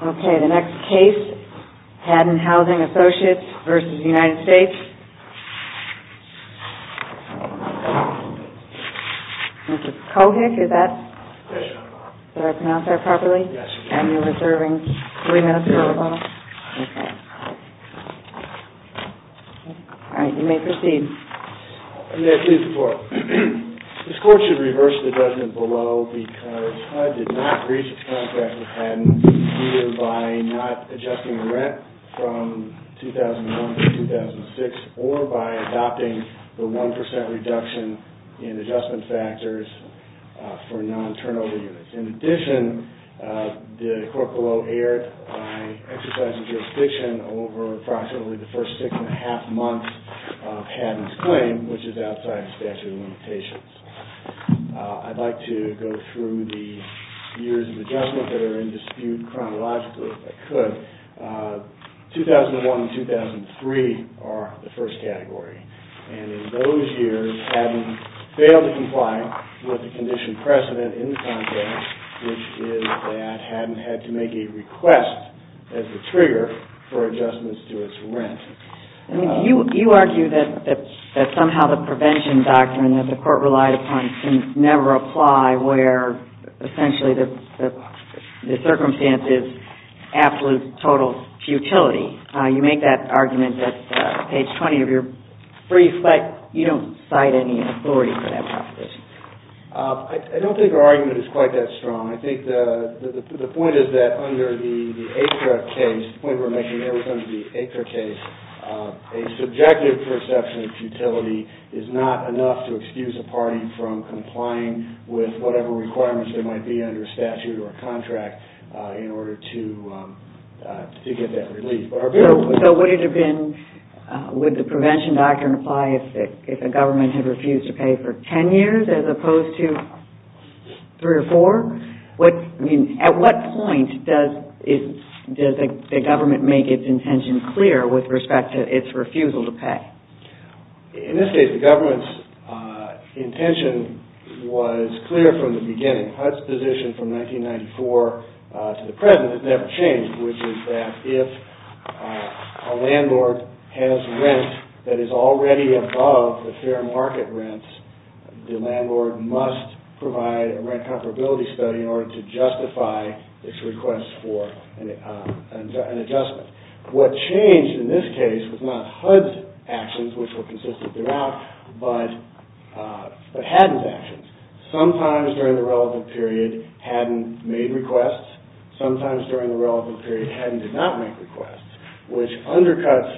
Okay, the next case, Haddon Housing Associates v. United States. This court should reverse the judgment below because HUD did not breach its contract with the United States or by adopting the 1% reduction in adjustment factors for non-turnover units. In addition, the court below erred by exercising jurisdiction over approximately the first six and a half months of Haddon's claim, which is outside the statute of limitations. I'd like to go through the years of adjustment that are in dispute chronologically if I could. 2001 and 2003 are the first category. And in those years, Haddon failed to comply with the condition precedent in the context, which is that Haddon had to make a request as the trigger for adjustments to its rent. You argue that somehow the prevention doctrine that the court relied upon can never apply where essentially the circumstance is absolute total futility. You make that argument at page 20 of your brief, but you don't cite any authority for that proposition. I don't think our argument is quite that strong. I think the point is that under the ACRA case, the point we're making there was under the ACRA case, a subjective perception of futility is not enough to excuse a party from complying with whatever requirements there might be under statute or contract in order to get that relief. So would the prevention doctrine apply if the government had refused to pay for 10 years as opposed to 3 or 4? At what point does the government make its intention clear with respect to its refusal to pay? In this case, the government's intention was clear from the beginning. HUD's position from 1994 to the present has never changed, which is that if a landlord has rent that is already above the fair market rents, the landlord must provide a rent comparability study in order to justify its request for an adjustment. What changed in this case was not HUD's actions, which were consistent throughout, but Haddon's actions. Sometimes during the relevant period, Haddon made requests. Sometimes during the relevant period, Haddon did not make requests, which undercuts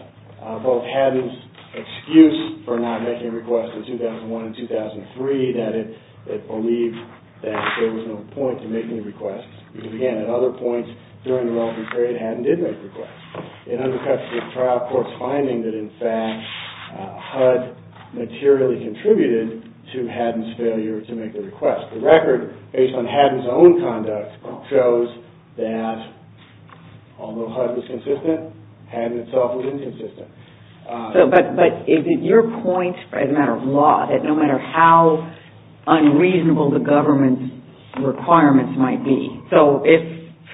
both Haddon's excuse for not making requests in 2001 and 2003, that it believed that there was no point to making requests, because, again, at other points during the relevant period, Haddon did make requests. It undercuts the trial court's finding that, in fact, HUD materially contributed to Haddon's failure to make the request. The record, based on Haddon's own conduct, shows that although HUD was consistent, Haddon itself was inconsistent. But is it your point, as a matter of law, that no matter how unreasonable the government's requirements might be, so if,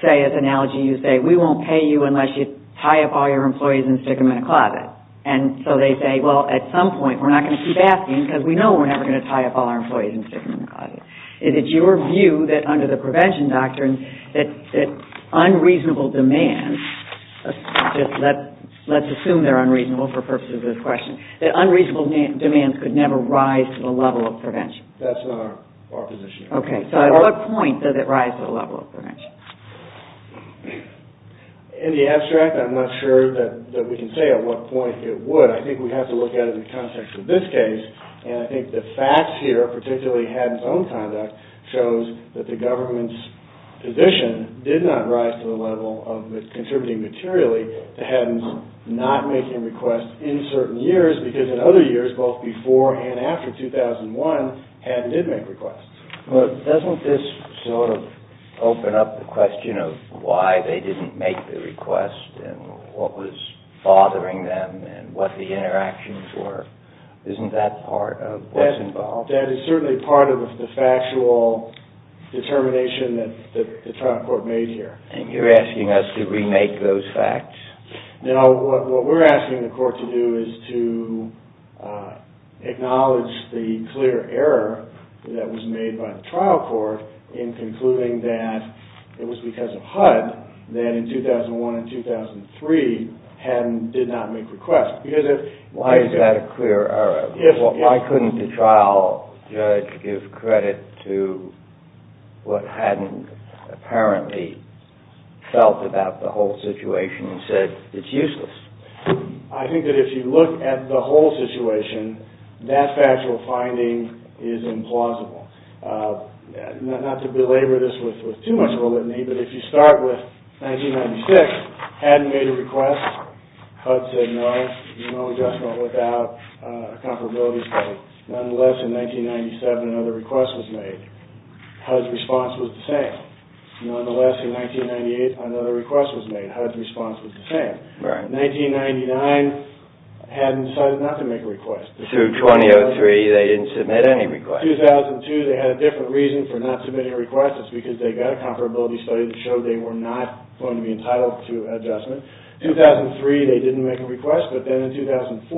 say, as an analogy, you say, we won't pay you unless you tie up all your employees and stick them in a closet, and so they say, well, at some point, we're not going to keep asking, because we know we're never going to tie up all our employees and stick them in a closet. Is it your view that, under the prevention doctrine, that unreasonable demands, let's assume they're unreasonable for purposes of this question, that unreasonable demands could never rise to the level of prevention? That's not our position. Okay, so at what point does it rise to the level of prevention? In the abstract, I'm not sure that we can say at what point it would. But I think we have to look at it in the context of this case, and I think the facts here, particularly Haddon's own conduct, shows that the government's position did not rise to the level of contributing materially to Haddon's not making requests in certain years, because in other years, both before and after 2001, Haddon did make requests. But doesn't this sort of open up the question of why they didn't make the request and what was bothering them and what the interactions were? Isn't that part of what's involved? That is certainly part of the factual determination that the trial court made here. And you're asking us to remake those facts? No, what we're asking the court to do is to acknowledge the clear error that was made by the trial court in concluding that it was because of HUD that in 2001 and 2003, Haddon did not make requests. Why is that a clear error? Why couldn't the trial judge give credit to what Haddon apparently felt about the whole situation and said it's useless? I think that if you look at the whole situation, that factual finding is implausible. Not to belabor this with too much of a litany, but if you start with 1996, Haddon made a request. HUD said no, no adjustment without a comparability study. Nonetheless, in 1997, another request was made. HUD's response was the same. Nonetheless, in 1998, another request was made. HUD's response was the same. 1999, Haddon decided not to make a request. Through 2003, they didn't submit any requests. 2002, they had a different reason for not submitting requests. It's because they got a comparability study that showed they were not going to be entitled to adjustment. 2003, they didn't make a request, but then in 2004,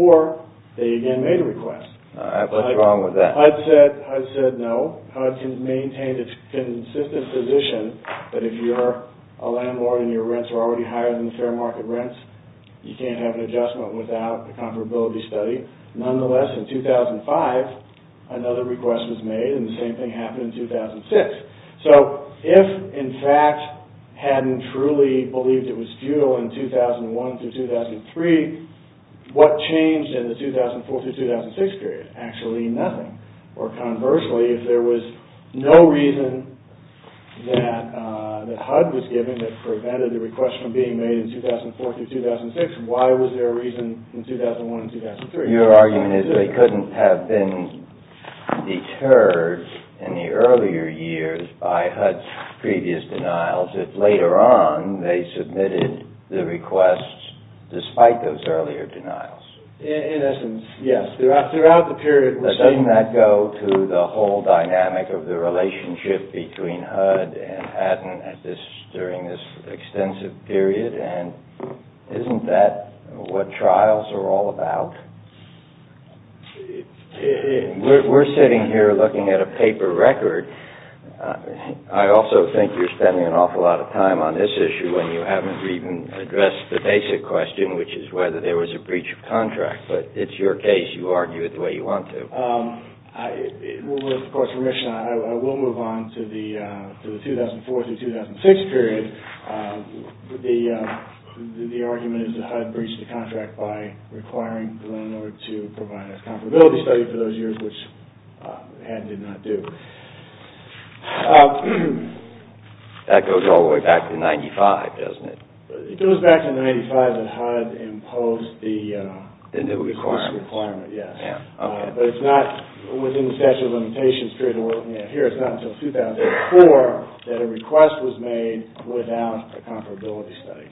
they again made a request. What's wrong with that? HUD said no. HUD can maintain its consistent position, but if you're a landlord and your rents are already higher than the fair market rents, you can't have an adjustment without a comparability study. Nonetheless, in 2005, another request was made, and the same thing happened in 2006. So if, in fact, Haddon truly believed it was futile in 2001 through 2003, what changed in the 2004 through 2006 period? Actually, nothing. Or conversely, if there was no reason that HUD was given that prevented the request from being made in 2004 through 2006, why was there a reason in 2001 and 2003? Your argument is they couldn't have been deterred in the earlier years by HUD's previous denials if later on they submitted the requests despite those earlier denials. In essence, yes. Doesn't that go to the whole dynamic of the relationship between HUD and Haddon during this extensive period, and isn't that what trials are all about? We're sitting here looking at a paper record. I also think you're spending an awful lot of time on this issue when you haven't even addressed the basic question, which is whether there was a breach of contract. But it's your case. You argue it the way you want to. With the court's permission, I will move on to the 2004 through 2006 period. The argument is that HUD breached the contract by requiring the loaner to provide a comparability study for those years, which Haddon did not do. That goes all the way back to 1995, doesn't it? It goes back to 1995 that HUD imposed this requirement, yes. But it's not within the statute of limitations period. Here, it's not until 2004 that a request was made without a comparability study.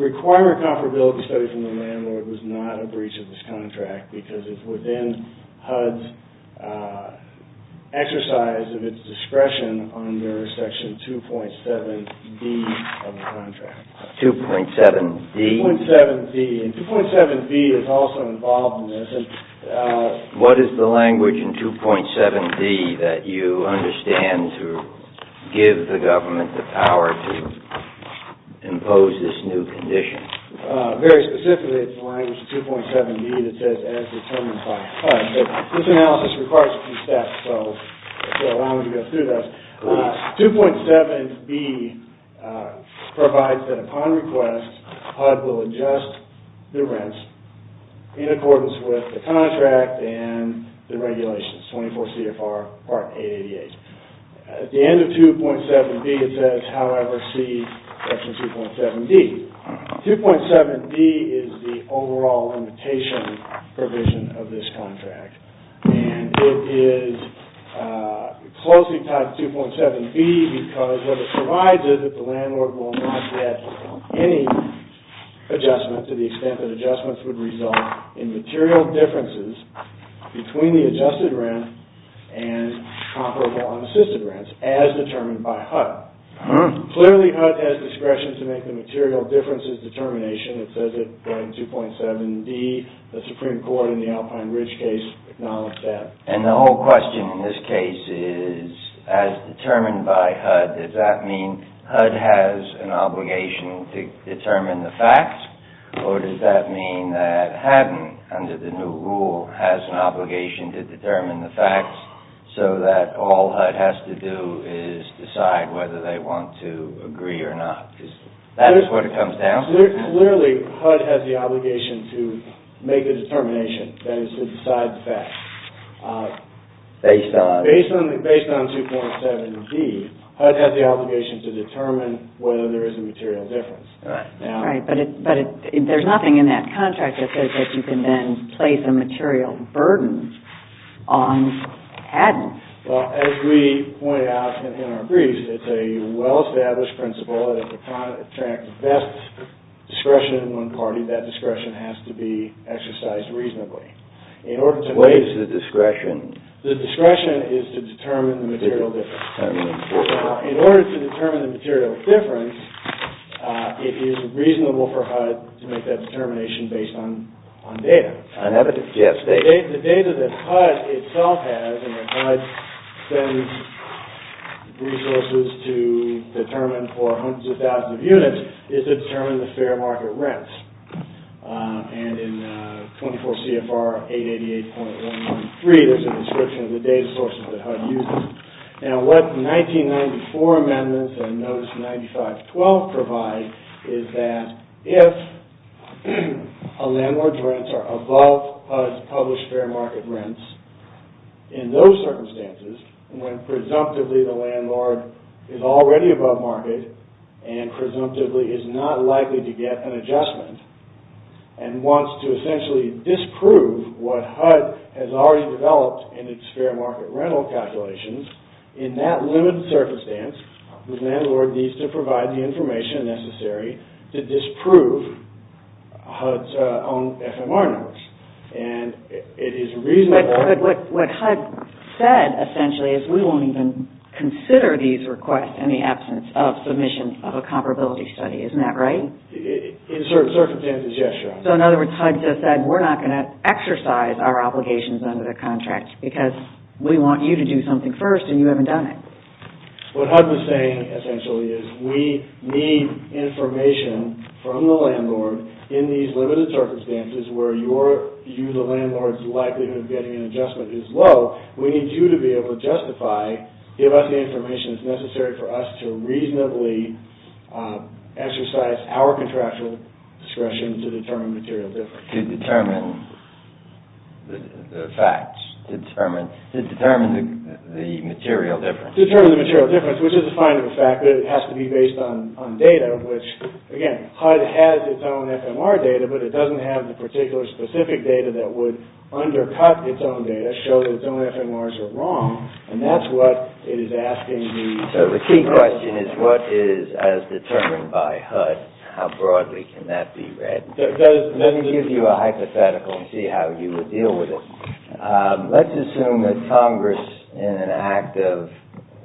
Requiring a comparability study from the landlord was not a breach of this contract because it's within HUD's exercise of its discretion under Section 2.7D of the contract. 2.7D? 2.7D, and 2.7B is also involved in this. What is the language in 2.7D that you understand to give the government the power to impose this new condition? Very specifically, it's the language in 2.7D that says, as determined by HUD. This analysis requires a few steps, so allow me to go through this. 2.7B provides that upon request, HUD will adjust the rents in accordance with the contract and the regulations, 24 CFR Part 888. At the end of 2.7B, it says, however, see Section 2.7D. 2.7D is the overall limitation provision of this contract. And it is closely tied to 2.7B because what it provides is that the landlord will not get any adjustment to the extent that adjustments would result in material differences between the adjusted rent and comparable unassisted rents, as determined by HUD. Clearly, HUD has discretion to make the material differences determination. It says it in 2.7D. The Supreme Court in the Alpine Ridge case acknowledged that. And the whole question in this case is, as determined by HUD, does that mean HUD has an obligation to determine the facts? Or does that mean that HUD, under the new rule, has an obligation to determine the facts, so that all HUD has to do is decide whether they want to agree or not? Because that is what it comes down to. Clearly, HUD has the obligation to make the determination, that is, to decide the facts. Based on? Based on 2.7D, HUD has the obligation to determine whether there is a material difference. Right. Right. But there is nothing in that contract that says that you can then place a material burden on patents. Well, as we point out in our briefs, it is a well-established principle that if a contract bests discretion in one party, that discretion has to be exercised reasonably. What is the discretion? The discretion is to determine the material difference. Now, in order to determine the material difference, it is reasonable for HUD to make that determination based on data. The data that HUD itself has, and that HUD sends resources to determine for hundreds of thousands of units, is to determine the fair market rents. And in 24 CFR 888.193, there is a description of the data sources that HUD uses. Now, what 1994 amendments and Notice 9512 provide is that if a landlord's rents are above his published fair market rents, in those circumstances, when presumptively the landlord is already above market and presumptively is not likely to get an adjustment, and wants to essentially disprove what HUD has already developed in its fair market rental calculations, in that limited circumstance, the landlord needs to provide the information necessary to disprove HUD's own FMR numbers. What HUD said, essentially, is we won't even consider these requests in the absence of submission of a comparability study. Isn't that right? In certain circumstances, yes, John. So, in other words, HUD just said we're not going to exercise our obligations under the contract because we want you to do something first and you haven't done it. What HUD was saying, essentially, is we need information from the landlord in these limited circumstances where you, the landlord's, likelihood of getting an adjustment is low. We need you to be able to justify, give us the information that's necessary for us to reasonably exercise our contractual discretion to determine material difference. To determine the facts. To determine the material difference. To determine the material difference, which is a fine of a fact, but it has to be based on data, which, again, HUD has its own FMR data, but it doesn't have the particular specific data that would undercut its own data, show that its own FMRs are wrong, and that's what it is asking. So the key question is what is as determined by HUD? How broadly can that be read? Let me give you a hypothetical and see how you would deal with it. Let's assume that Congress, in an act of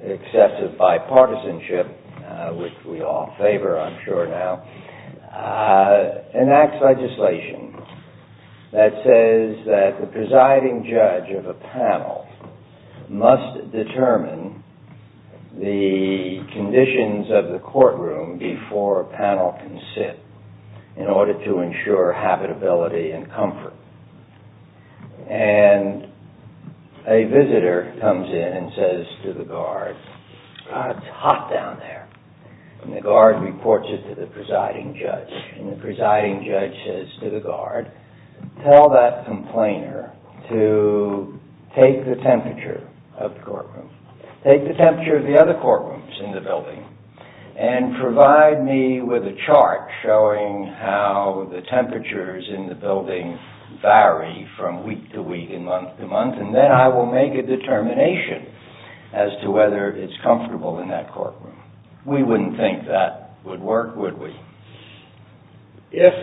excessive bipartisanship, which we all favor, I'm sure, now, enacts legislation that says that the presiding judge of a panel must determine the conditions of the courtroom before a panel can sit in order to ensure habitability and comfort. And a visitor comes in and says to the guard, God, it's hot down there. And the guard reports it to the presiding judge. And the presiding judge says to the guard, tell that complainer to take the temperature of the courtroom. Take the temperature of the other courtrooms in the building and provide me with a chart showing how the temperatures in the building vary from week to week and month to month, and then I will make a determination as to whether it's comfortable in that courtroom. We wouldn't think that would work, would we? If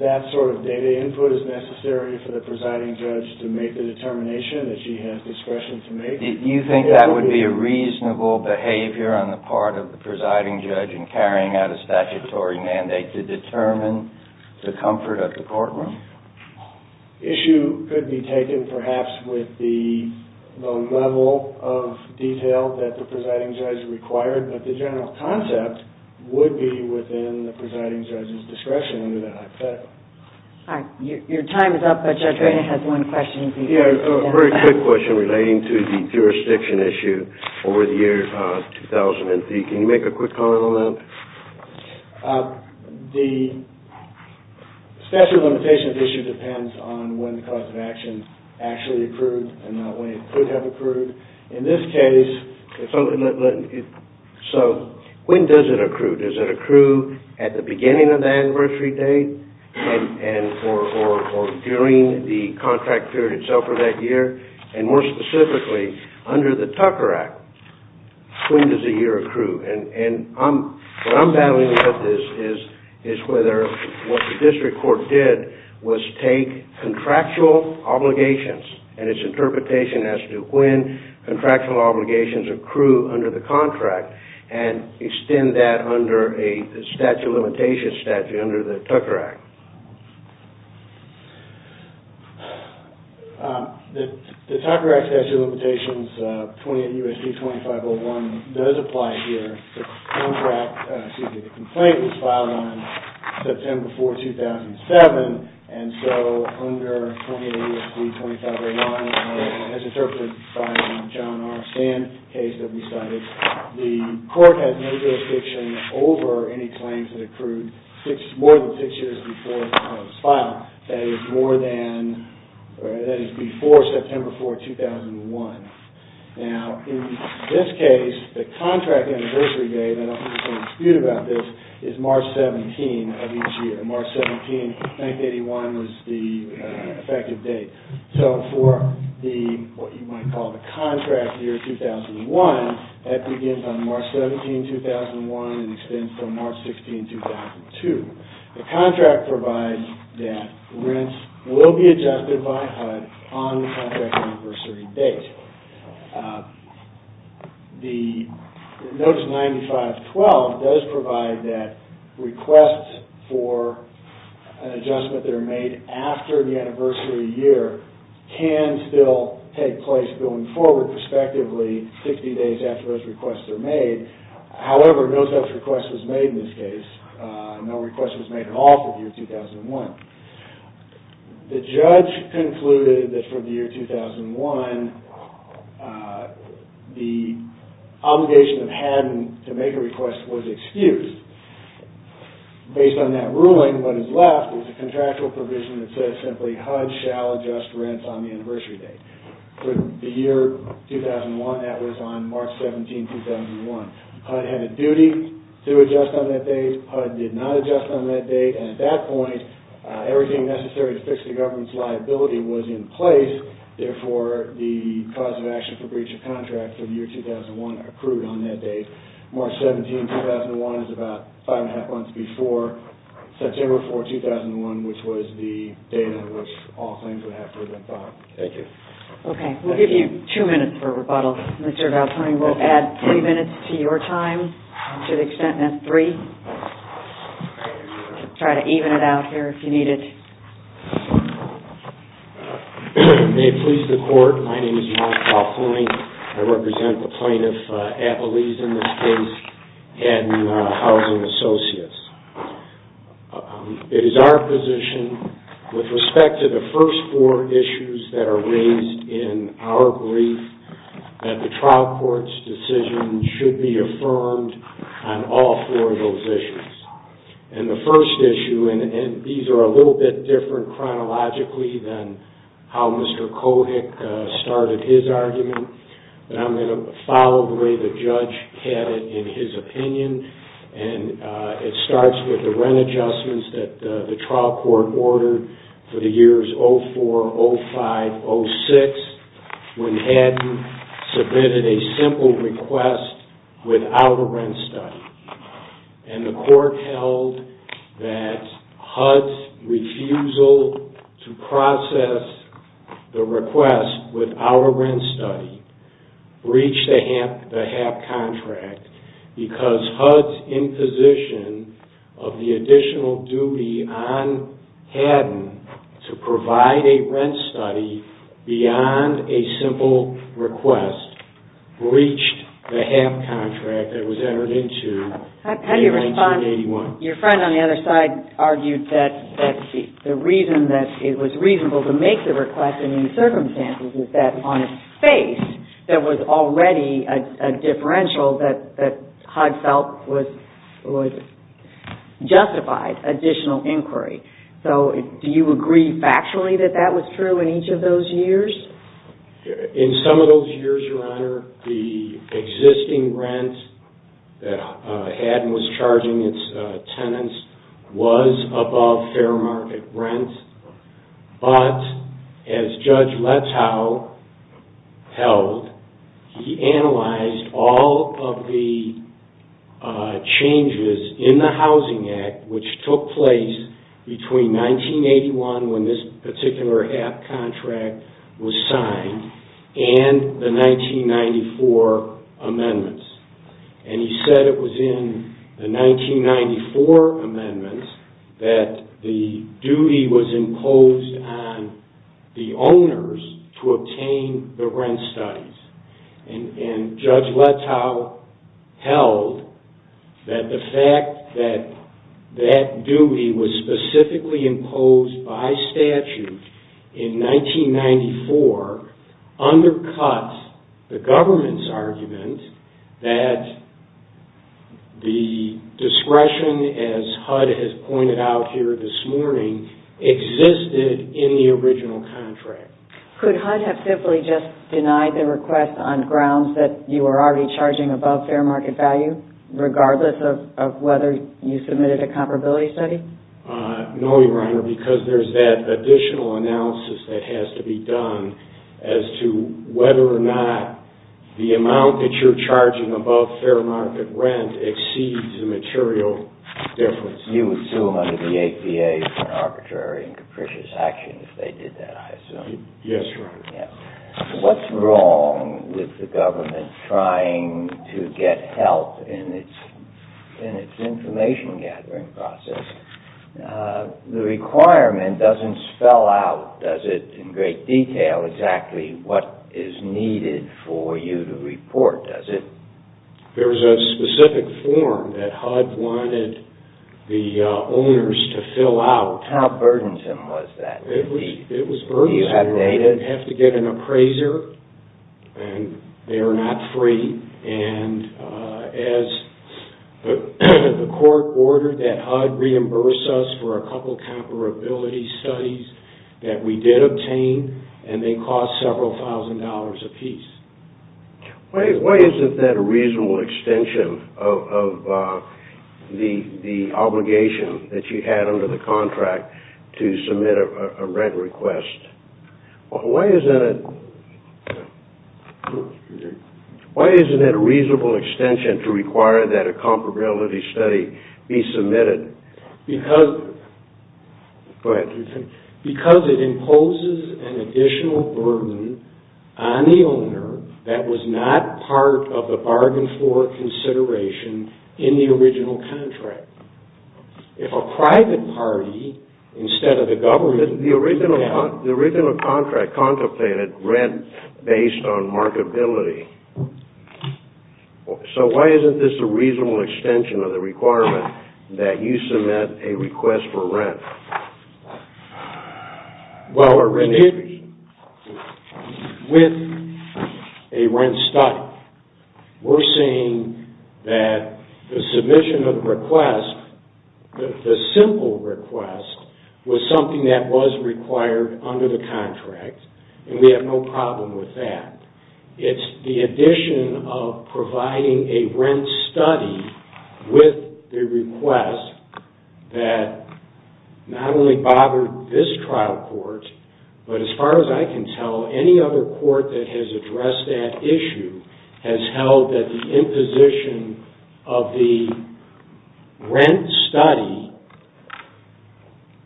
that sort of data input is necessary for the presiding judge to make the determination that she has discretion to make... Do you think that would be a reasonable behavior on the part of the presiding judge in carrying out a statutory mandate to determine the comfort of the courtroom? The issue could be taken, perhaps, with the level of detail that the presiding judge required, but the general concept would be within the presiding judge's discretion under that hypothetical. All right. Your time is up, but Judge Ray has one question. Yeah, a very quick question relating to the jurisdiction issue over the year 2000. Can you make a quick comment on that? The statute of limitations issue depends on when the cause of action actually accrued and not when it could have accrued. In this case, when does it accrue? Does it accrue at the beginning of the anniversary date or during the contract period itself for that year? More specifically, under the Tucker Act, when does a year accrue? What I'm battling with is whether what the district court did was take contractual obligations and its interpretation as to when contractual obligations accrue under the contract and extend that under a statute of limitations statute under the Tucker Act. The Tucker Act statute of limitations 28 U.S.C. 2501 does apply here. The complaint was filed on September 4, 2007, and so under 28 U.S.C. 2501, as interpreted by the John R. Sand case that we cited, the court has no jurisdiction over any claims that accrued more than six years before it was filed, that is, before September 4, 2001. Now, in this case, the contract anniversary date, I don't think there's any dispute about this, is March 17 of each year. March 17, 1981 was the effective date. So for what you might call the contract year 2001, that begins on March 17, 2001 and extends until March 16, 2002. The contract provides that rents will be adjusted by HUD on the contract anniversary date. Notice 9512 does provide that requests for an adjustment that are made after the anniversary year can still take place going forward, respectively, 50 days after those requests are made. However, no such request was made in this case. No request was made at all for the year 2001. The judge concluded that for the year 2001, the obligation of Haddon to make a request was excused. Based on that ruling, what is left is a contractual provision that says simply, HUD shall adjust rents on the anniversary date. For the year 2001, that was on March 17, 2001. HUD had a duty to adjust on that date. HUD did not adjust on that date. And at that point, everything necessary to fix the government's liability was in place. Therefore, the cause of action for breach of contract for the year 2001 accrued on that date. March 17, 2001 is about five and a half months before September 4, 2001, which was the date on which all claims would have to have been filed. Thank you. Okay. We'll give you two minutes for rebuttal. Mr. Valzani, we'll add three minutes to your time to the extent that three. Try to even it out here if you need it. May it please the Court, my name is Mark Valzani. I represent the plaintiff, Appalese in this case, and Housing Associates. It is our position, with respect to the first four issues that are raised in our brief, that the trial court's decision should be affirmed on all four of those issues. And the first issue, and these are a little bit different chronologically than how Mr. Kohik started his argument, but I'm going to follow the way the judge had it in his opinion. And it starts with the rent adjustments that the trial court ordered for the years 2004, 2005, 2006. When Haddon submitted a simple request without a rent study, and the court held that HUD's refusal to process the request without a rent study breached the HAP contract because HUD's imposition of the additional duty on Haddon to provide a rent study beyond a simple request breached the HAP contract that was entered into in 1981. How do you respond? Your friend on the other side argued that the reason that it was reasonable to make the request in these circumstances is that on its face there was already a differential that HUD felt justified additional inquiry. So do you agree factually that that was true in each of those years? In some of those years, Your Honor, the existing rent that Haddon was charging its tenants was above fair market rents. But as Judge Letow held, he analyzed all of the changes in the Housing Act which took place between 1981 when this particular HAP contract was signed and the 1994 amendments. And he said it was in the 1994 amendments that the duty was imposed on the owners to obtain the rent studies. And Judge Letow held that the fact that that duty was specifically imposed by statute in 1994 undercuts the government's argument that the discretion as HUD has pointed out here this morning existed in the original contract. Could HUD have simply just denied the request on grounds that you were already charging above fair market value regardless of whether you submitted a comparability study? No, Your Honor, because there's that additional analysis that has to be done as to whether or not the amount that you're charging above fair market rent exceeds the material difference. You would sue them under the APA for arbitrary and capricious action if they did that, I assume. Yes, Your Honor. What's wrong with the government trying to get help in its information gathering process? The requirement doesn't spell out, does it, in great detail exactly what is needed for you to report, does it? There was a specific form that HUD wanted the owners to fill out. How burdensome was that? It was burdensome. Do you have data? We didn't have to get an appraiser, and they are not free. And as the court ordered that HUD reimburse us for a couple comparability studies that we did obtain, and they cost several thousand dollars apiece. Why isn't that a reasonable extension of the obligation that you had under the contract to submit a rent request? Why isn't it a reasonable extension to require that a comparability study be submitted? Go ahead. Because it imposes an additional burden on the owner that was not part of the bargain floor consideration in the original contract. If a private party instead of the government... The original contract contemplated rent based on marketability. So why isn't this a reasonable extension of the requirement that you submit a request for rent? Well, with a rent study, we're seeing that the submission of the request, the simple request, was something that was required under the contract, and we have no problem with that. It's the addition of providing a rent study with the request that not only bothered this trial court, but as far as I can tell, any other court that has addressed that issue has held that the imposition of the rent study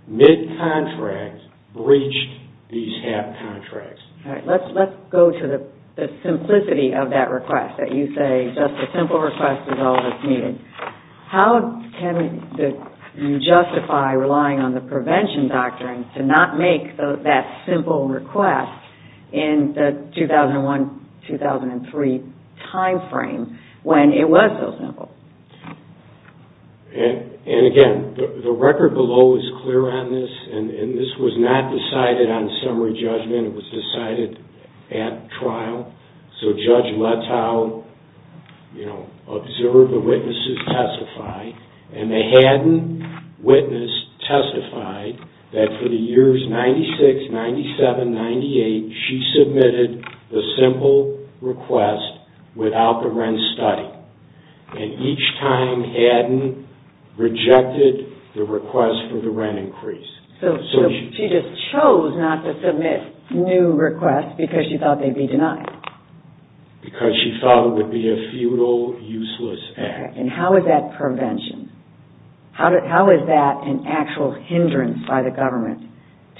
mid-contract breached these HAP contracts. Let's go to the simplicity of that request, that you say just a simple request is all that's needed. How can you justify relying on the prevention doctrine to not make that simple request in the 2001-2003 timeframe when it was so simple? And again, the record below is clear on this, and this was not decided on summary judgment. It was decided at trial, so Judge Letow observed the witnesses testify, and they hadn't witnessed testified that for the years 96, 97, 98, she submitted the simple request without the rent study. And each time hadn't rejected the request for the rent increase. So she just chose not to submit new requests because she thought they'd be denied. Because she thought it would be a futile, useless act. And how is that prevention? How is that an actual hindrance by the government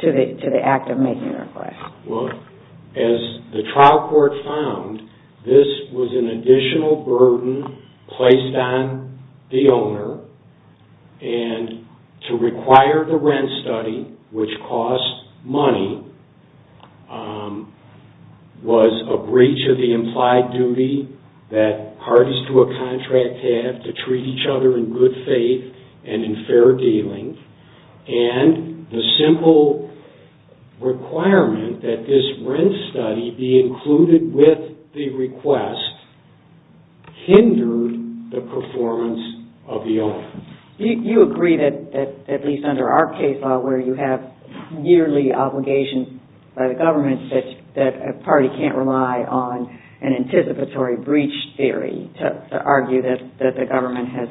to the act of making a request? Well, as the trial court found, this was an additional burden placed on the owner, and to require the rent study, which costs money, was a breach of the implied duty that parties to a contract have to treat each other in good faith and in fair dealing. And the simple requirement that this rent study be included with the request hindered the performance of the owner. You agree that, at least under our case law, where you have yearly obligations by the government, that a party can't rely on an anticipatory breach theory to argue that the government has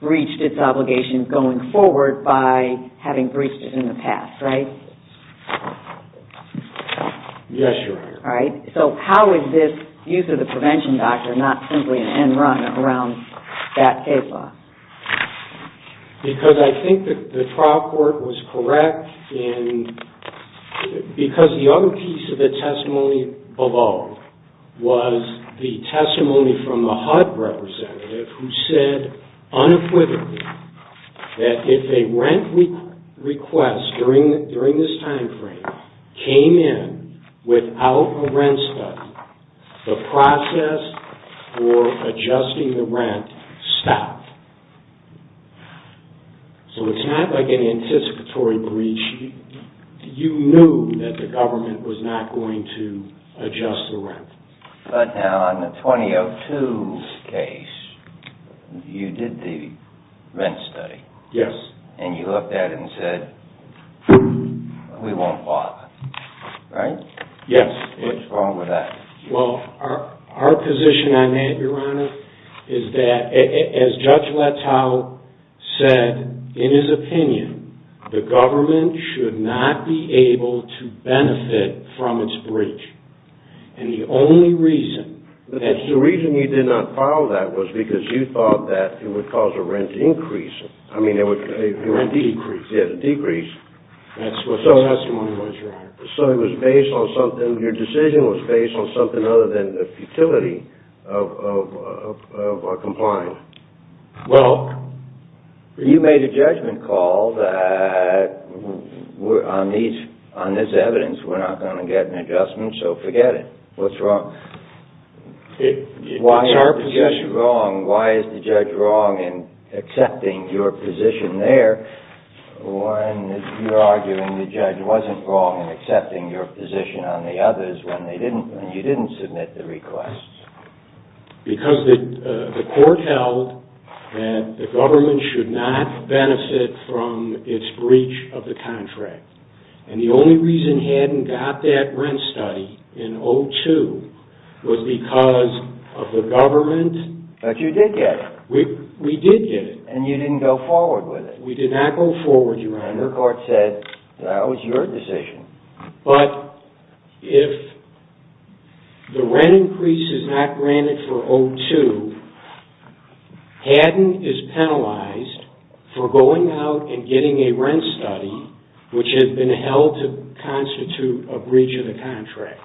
breached its obligation going forward by having breached it in the past, right? Yes, Your Honor. All right. So how is this use of the prevention doctrine not simply an end run around that case law? Because I think the trial court was correct in – because the other piece of the testimony above was the testimony from the HUD representative who said unequivocally that if a rent request during this timeframe came in without a rent study, the process for adjusting the rent stopped. So it's not like an anticipatory breach. You knew that the government was not going to adjust the rent. But now on the 2002 case, you did the rent study. Yes. And you looked at it and said, we won't bother, right? Yes. What's wrong with that? Well, our position on that, Your Honor, is that as Judge Letow said in his opinion, the government should not be able to benefit from its breach. And the only reason – The reason you did not follow that was because you thought that it would cause a rent increase. I mean, a rent decrease. Yes, a decrease. That's what the testimony was, Your Honor. So it was based on something – your decision was based on something other than the futility of compliance. Well, you made a judgment call that on this evidence, we're not going to get an adjustment, so forget it. What's wrong? It's our position. Why is the judge wrong? Why is the judge wrong in accepting your position there Warren, you're arguing the judge wasn't wrong in accepting your position on the others when you didn't submit the request. Because the court held that the government should not benefit from its breach of the contract. And the only reason he hadn't got that rent study in 2002 was because of the government – But you did get it. We did get it. And you didn't go forward with it. We did not go forward, Your Honor. Your court said that was your decision. But if the rent increase is not granted for 2002, Haddon is penalized for going out and getting a rent study which had been held to constitute a breach of the contract.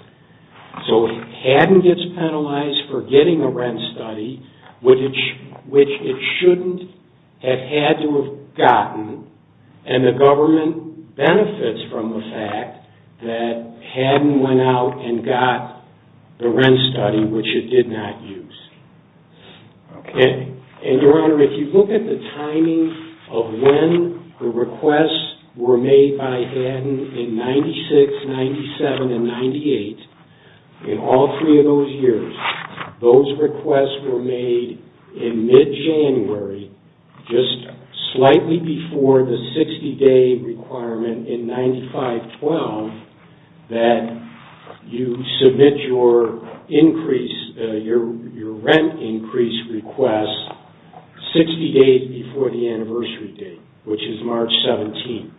So Haddon gets penalized for getting a rent study which it shouldn't have had to have gotten and the government benefits from the fact that Haddon went out and got the rent study which it did not use. And, Your Honor, if you look at the timing of when the requests were made by Haddon in 96, 97, and 98, in all three of those years, those requests were made in mid-January, just slightly before the 60-day requirement in 95-12 that you submit your rent increase request 60 days before the anniversary date, which is March 17.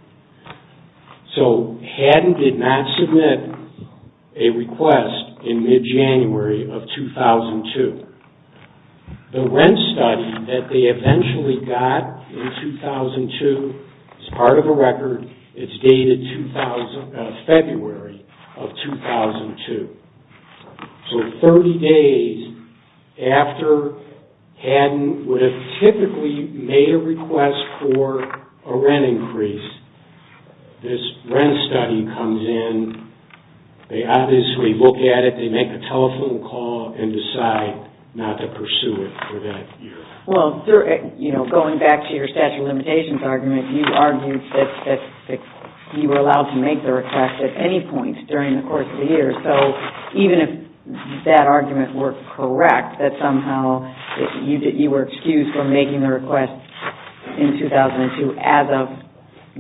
So Haddon did not submit a request in mid-January of 2002. The rent study that they eventually got in 2002 is part of a record. It's dated February of 2002. So 30 days after Haddon would have typically made a request for a rent increase, this rent study comes in. They obviously look at it. They make a telephone call and decide not to pursue it for that year. Well, going back to your statute of limitations argument, you argued that you were allowed to make the request at any point during the course of the year. So even if that argument were correct, that somehow you were excused from making the request in 2002 as of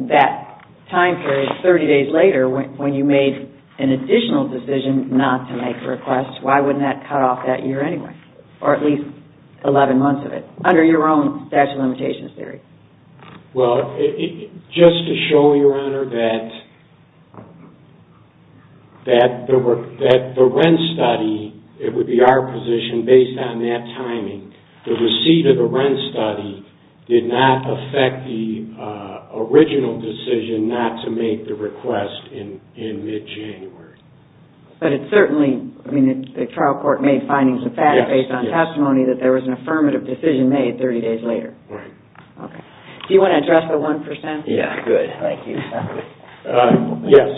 that time period 30 days later when you made an additional decision not to make the request, why wouldn't that cut off that year anyway, or at least 11 months of it, under your own statute of limitations theory? Well, just to show Your Honor that the rent study, it would be our position based on that timing, the receipt of the rent study did not affect the original decision not to make the request in mid-January. But it certainly, I mean, the trial court made findings of fact based on testimony that there was an affirmative decision made 30 days later. Right. Okay. Do you want to address the 1%? Yeah, good. Thank you. Yes.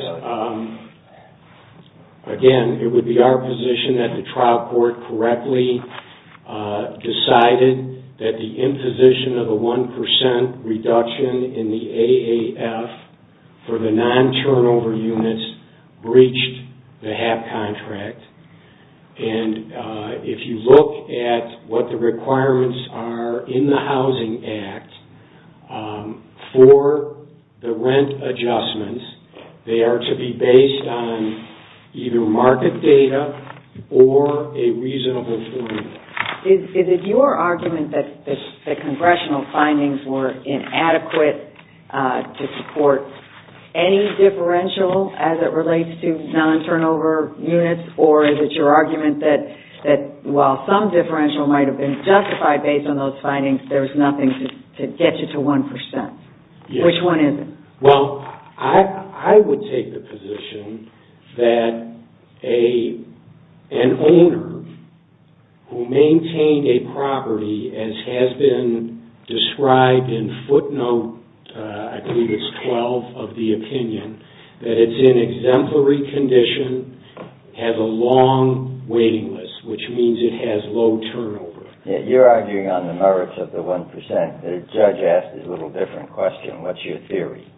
Again, it would be our position that the trial court correctly decided that the imposition of the 1% reduction in the AAF for the non-turnover units breached the HAP contract. And if you look at what the requirements are in the Housing Act for the rent adjustments, they are to be based on either market data or a reasonable formula. Is it your argument that the congressional findings were inadequate to support any differential as it relates to non-turnover units? Or is it your argument that while some differential might have been justified based on those findings, there's nothing to get you to 1%? Yes. Which one is it? Well, I would take the position that an owner who maintained a property as has been described in footnote, I believe it's 12, of the opinion that it's in exemplary condition, has a long waiting list, which means it has low turnover. You're arguing on the merits of the 1%. The judge asked a little different question. What's your theory?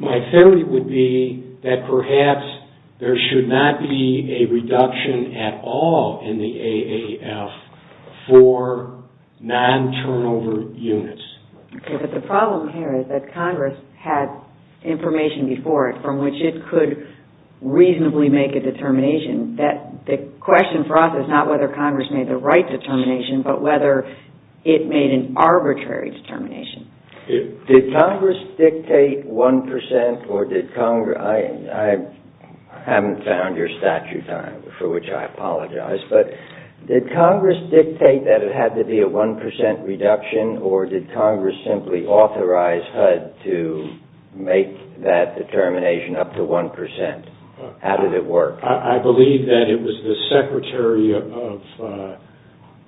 My theory would be that perhaps there should not be a reduction at all in the AAF for non-turnover units. Okay. But the problem here is that Congress had information before it from which it could reasonably make a determination. The question for us is not whether Congress made the right determination, but whether it made an arbitrary determination. Did Congress dictate 1%? I haven't found your statute for which I apologize. Did Congress dictate that it had to be a 1% reduction, or did Congress simply authorize HUD to make that determination up to 1%? How did it work? I believe that it was the Secretary of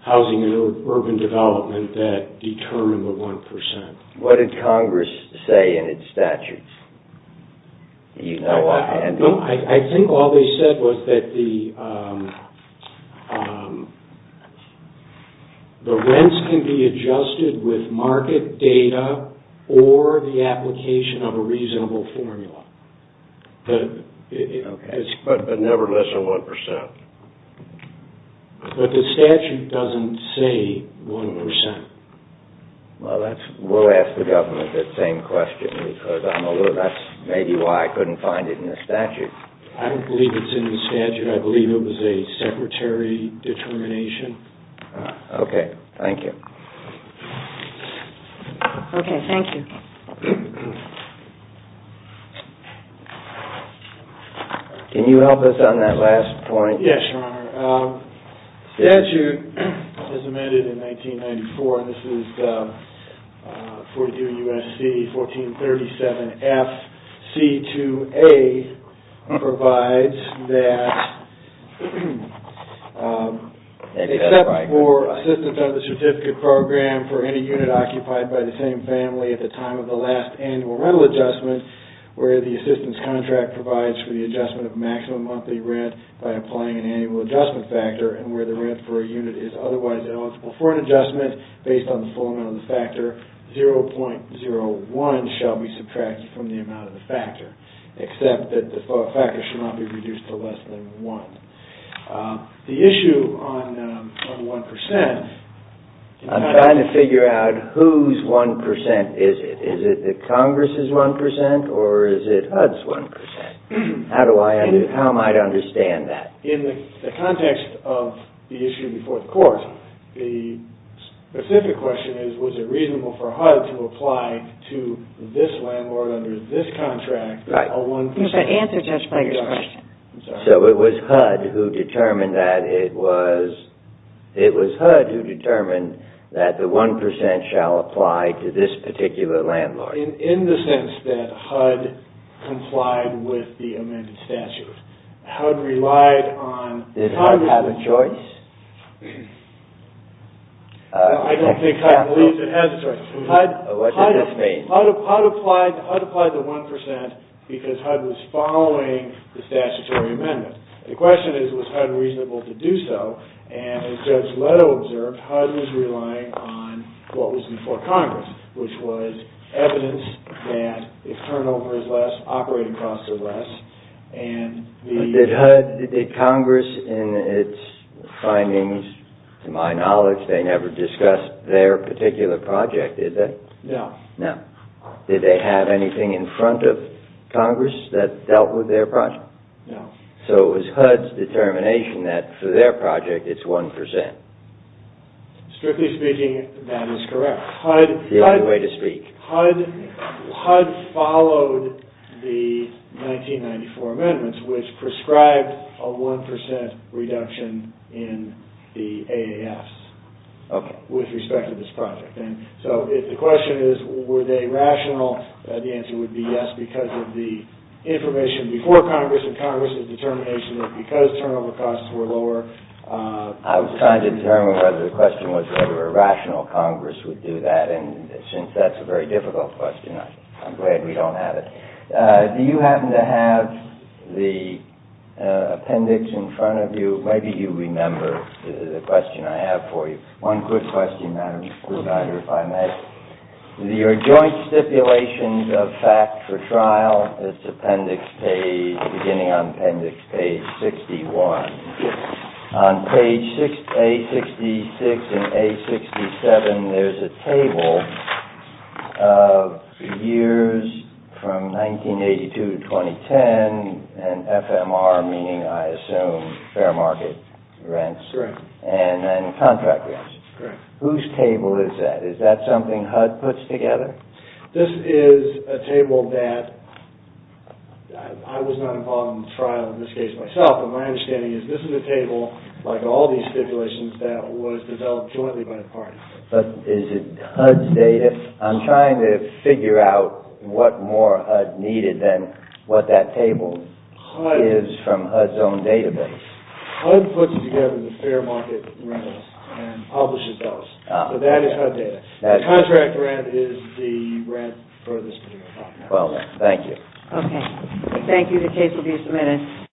Housing and Urban Development that determined the 1%. What did Congress say in its statute? I think all they said was that the rents can be adjusted with market data or the application of a reasonable formula. But never less than 1%. But the statute doesn't say 1%. Well, we'll ask the government that same question, because that's maybe why I couldn't find it in the statute. I don't believe it's in the statute. I believe it was a Secretary determination. Okay. Thank you. Okay. Thank you. Can you help us on that last point? Yes, Your Honor. The statute that was amended in 1994, and this is 42 U.S.C. 1437 F.C. 2A, provides that except for assistance of the certificate program for any unit occupied by the same family at the time of the last annual rental adjustment, where the assistance contract provides for the adjustment of maximum monthly rent by applying an annual adjustment factor, and where the rent for a unit is otherwise eligible for an adjustment based on the full amount of the factor, 0.01 shall be subtracted from the amount of the factor, except that the factor should not be reduced to less than 1. The issue on 1% I'm trying to figure out whose 1% is it. Is it the Congress's 1% or is it HUD's 1%? How am I to understand that? In the context of the issue before the court, the specific question is, was it reasonable for HUD to apply to this landlord under this contract a 1%? You have to answer Judge Fletcher's question. I'm sorry. It was HUD who determined that the 1% shall apply to this particular landlord. In the sense that HUD complied with the amended statute. HUD relied on Did HUD have a choice? I don't think HUD believes it has a choice. What does this mean? HUD applied the 1% because HUD was following the statutory amendment. The question is, was HUD reasonable to do so? And as Judge Leto observed, HUD was relying on what was before Congress, which was evidence that if turnover is less, operating costs are less, and the But did HUD, did Congress in its findings, to my knowledge, they never discuss their particular project, did they? No. No. Did they have anything in front of Congress that dealt with their project? No. So it was HUD's determination that for their project it's 1%. Strictly speaking, that is correct. The only way to speak. HUD followed the 1994 amendments, which prescribed a 1% reduction in the AAS with respect to this project. So the question is, were they rational? The answer would be yes because of the information before Congress and Congress's determination that because turnover costs were lower I was trying to determine whether the question was whether a rational Congress would do that. And since that's a very difficult question, I'm glad we don't have it. Do you happen to have the appendix in front of you? Maybe you remember the question I have for you. One quick question, Madam Provider, if I may. Your joint stipulations of fact for trial, its appendix page, beginning on appendix page 61. On page A66 and A67, there's a table of years from 1982 to 2010 and FMR meaning, I assume, fair market rents. Correct. And contract rents. Correct. Whose table is that? Is that something HUD puts together? This is a table that I was not involved in the trial in this case myself. But my understanding is this is a table, like all these stipulations, that was developed jointly by the parties. But is it HUD's data? I'm trying to figure out what more HUD needed than what that table is from HUD's own database. HUD puts together the fair market rentals and publishes those. So that is HUD data. Contract rent is the rent for this case. Well, thank you. Okay. Thank you. The case will be submitted.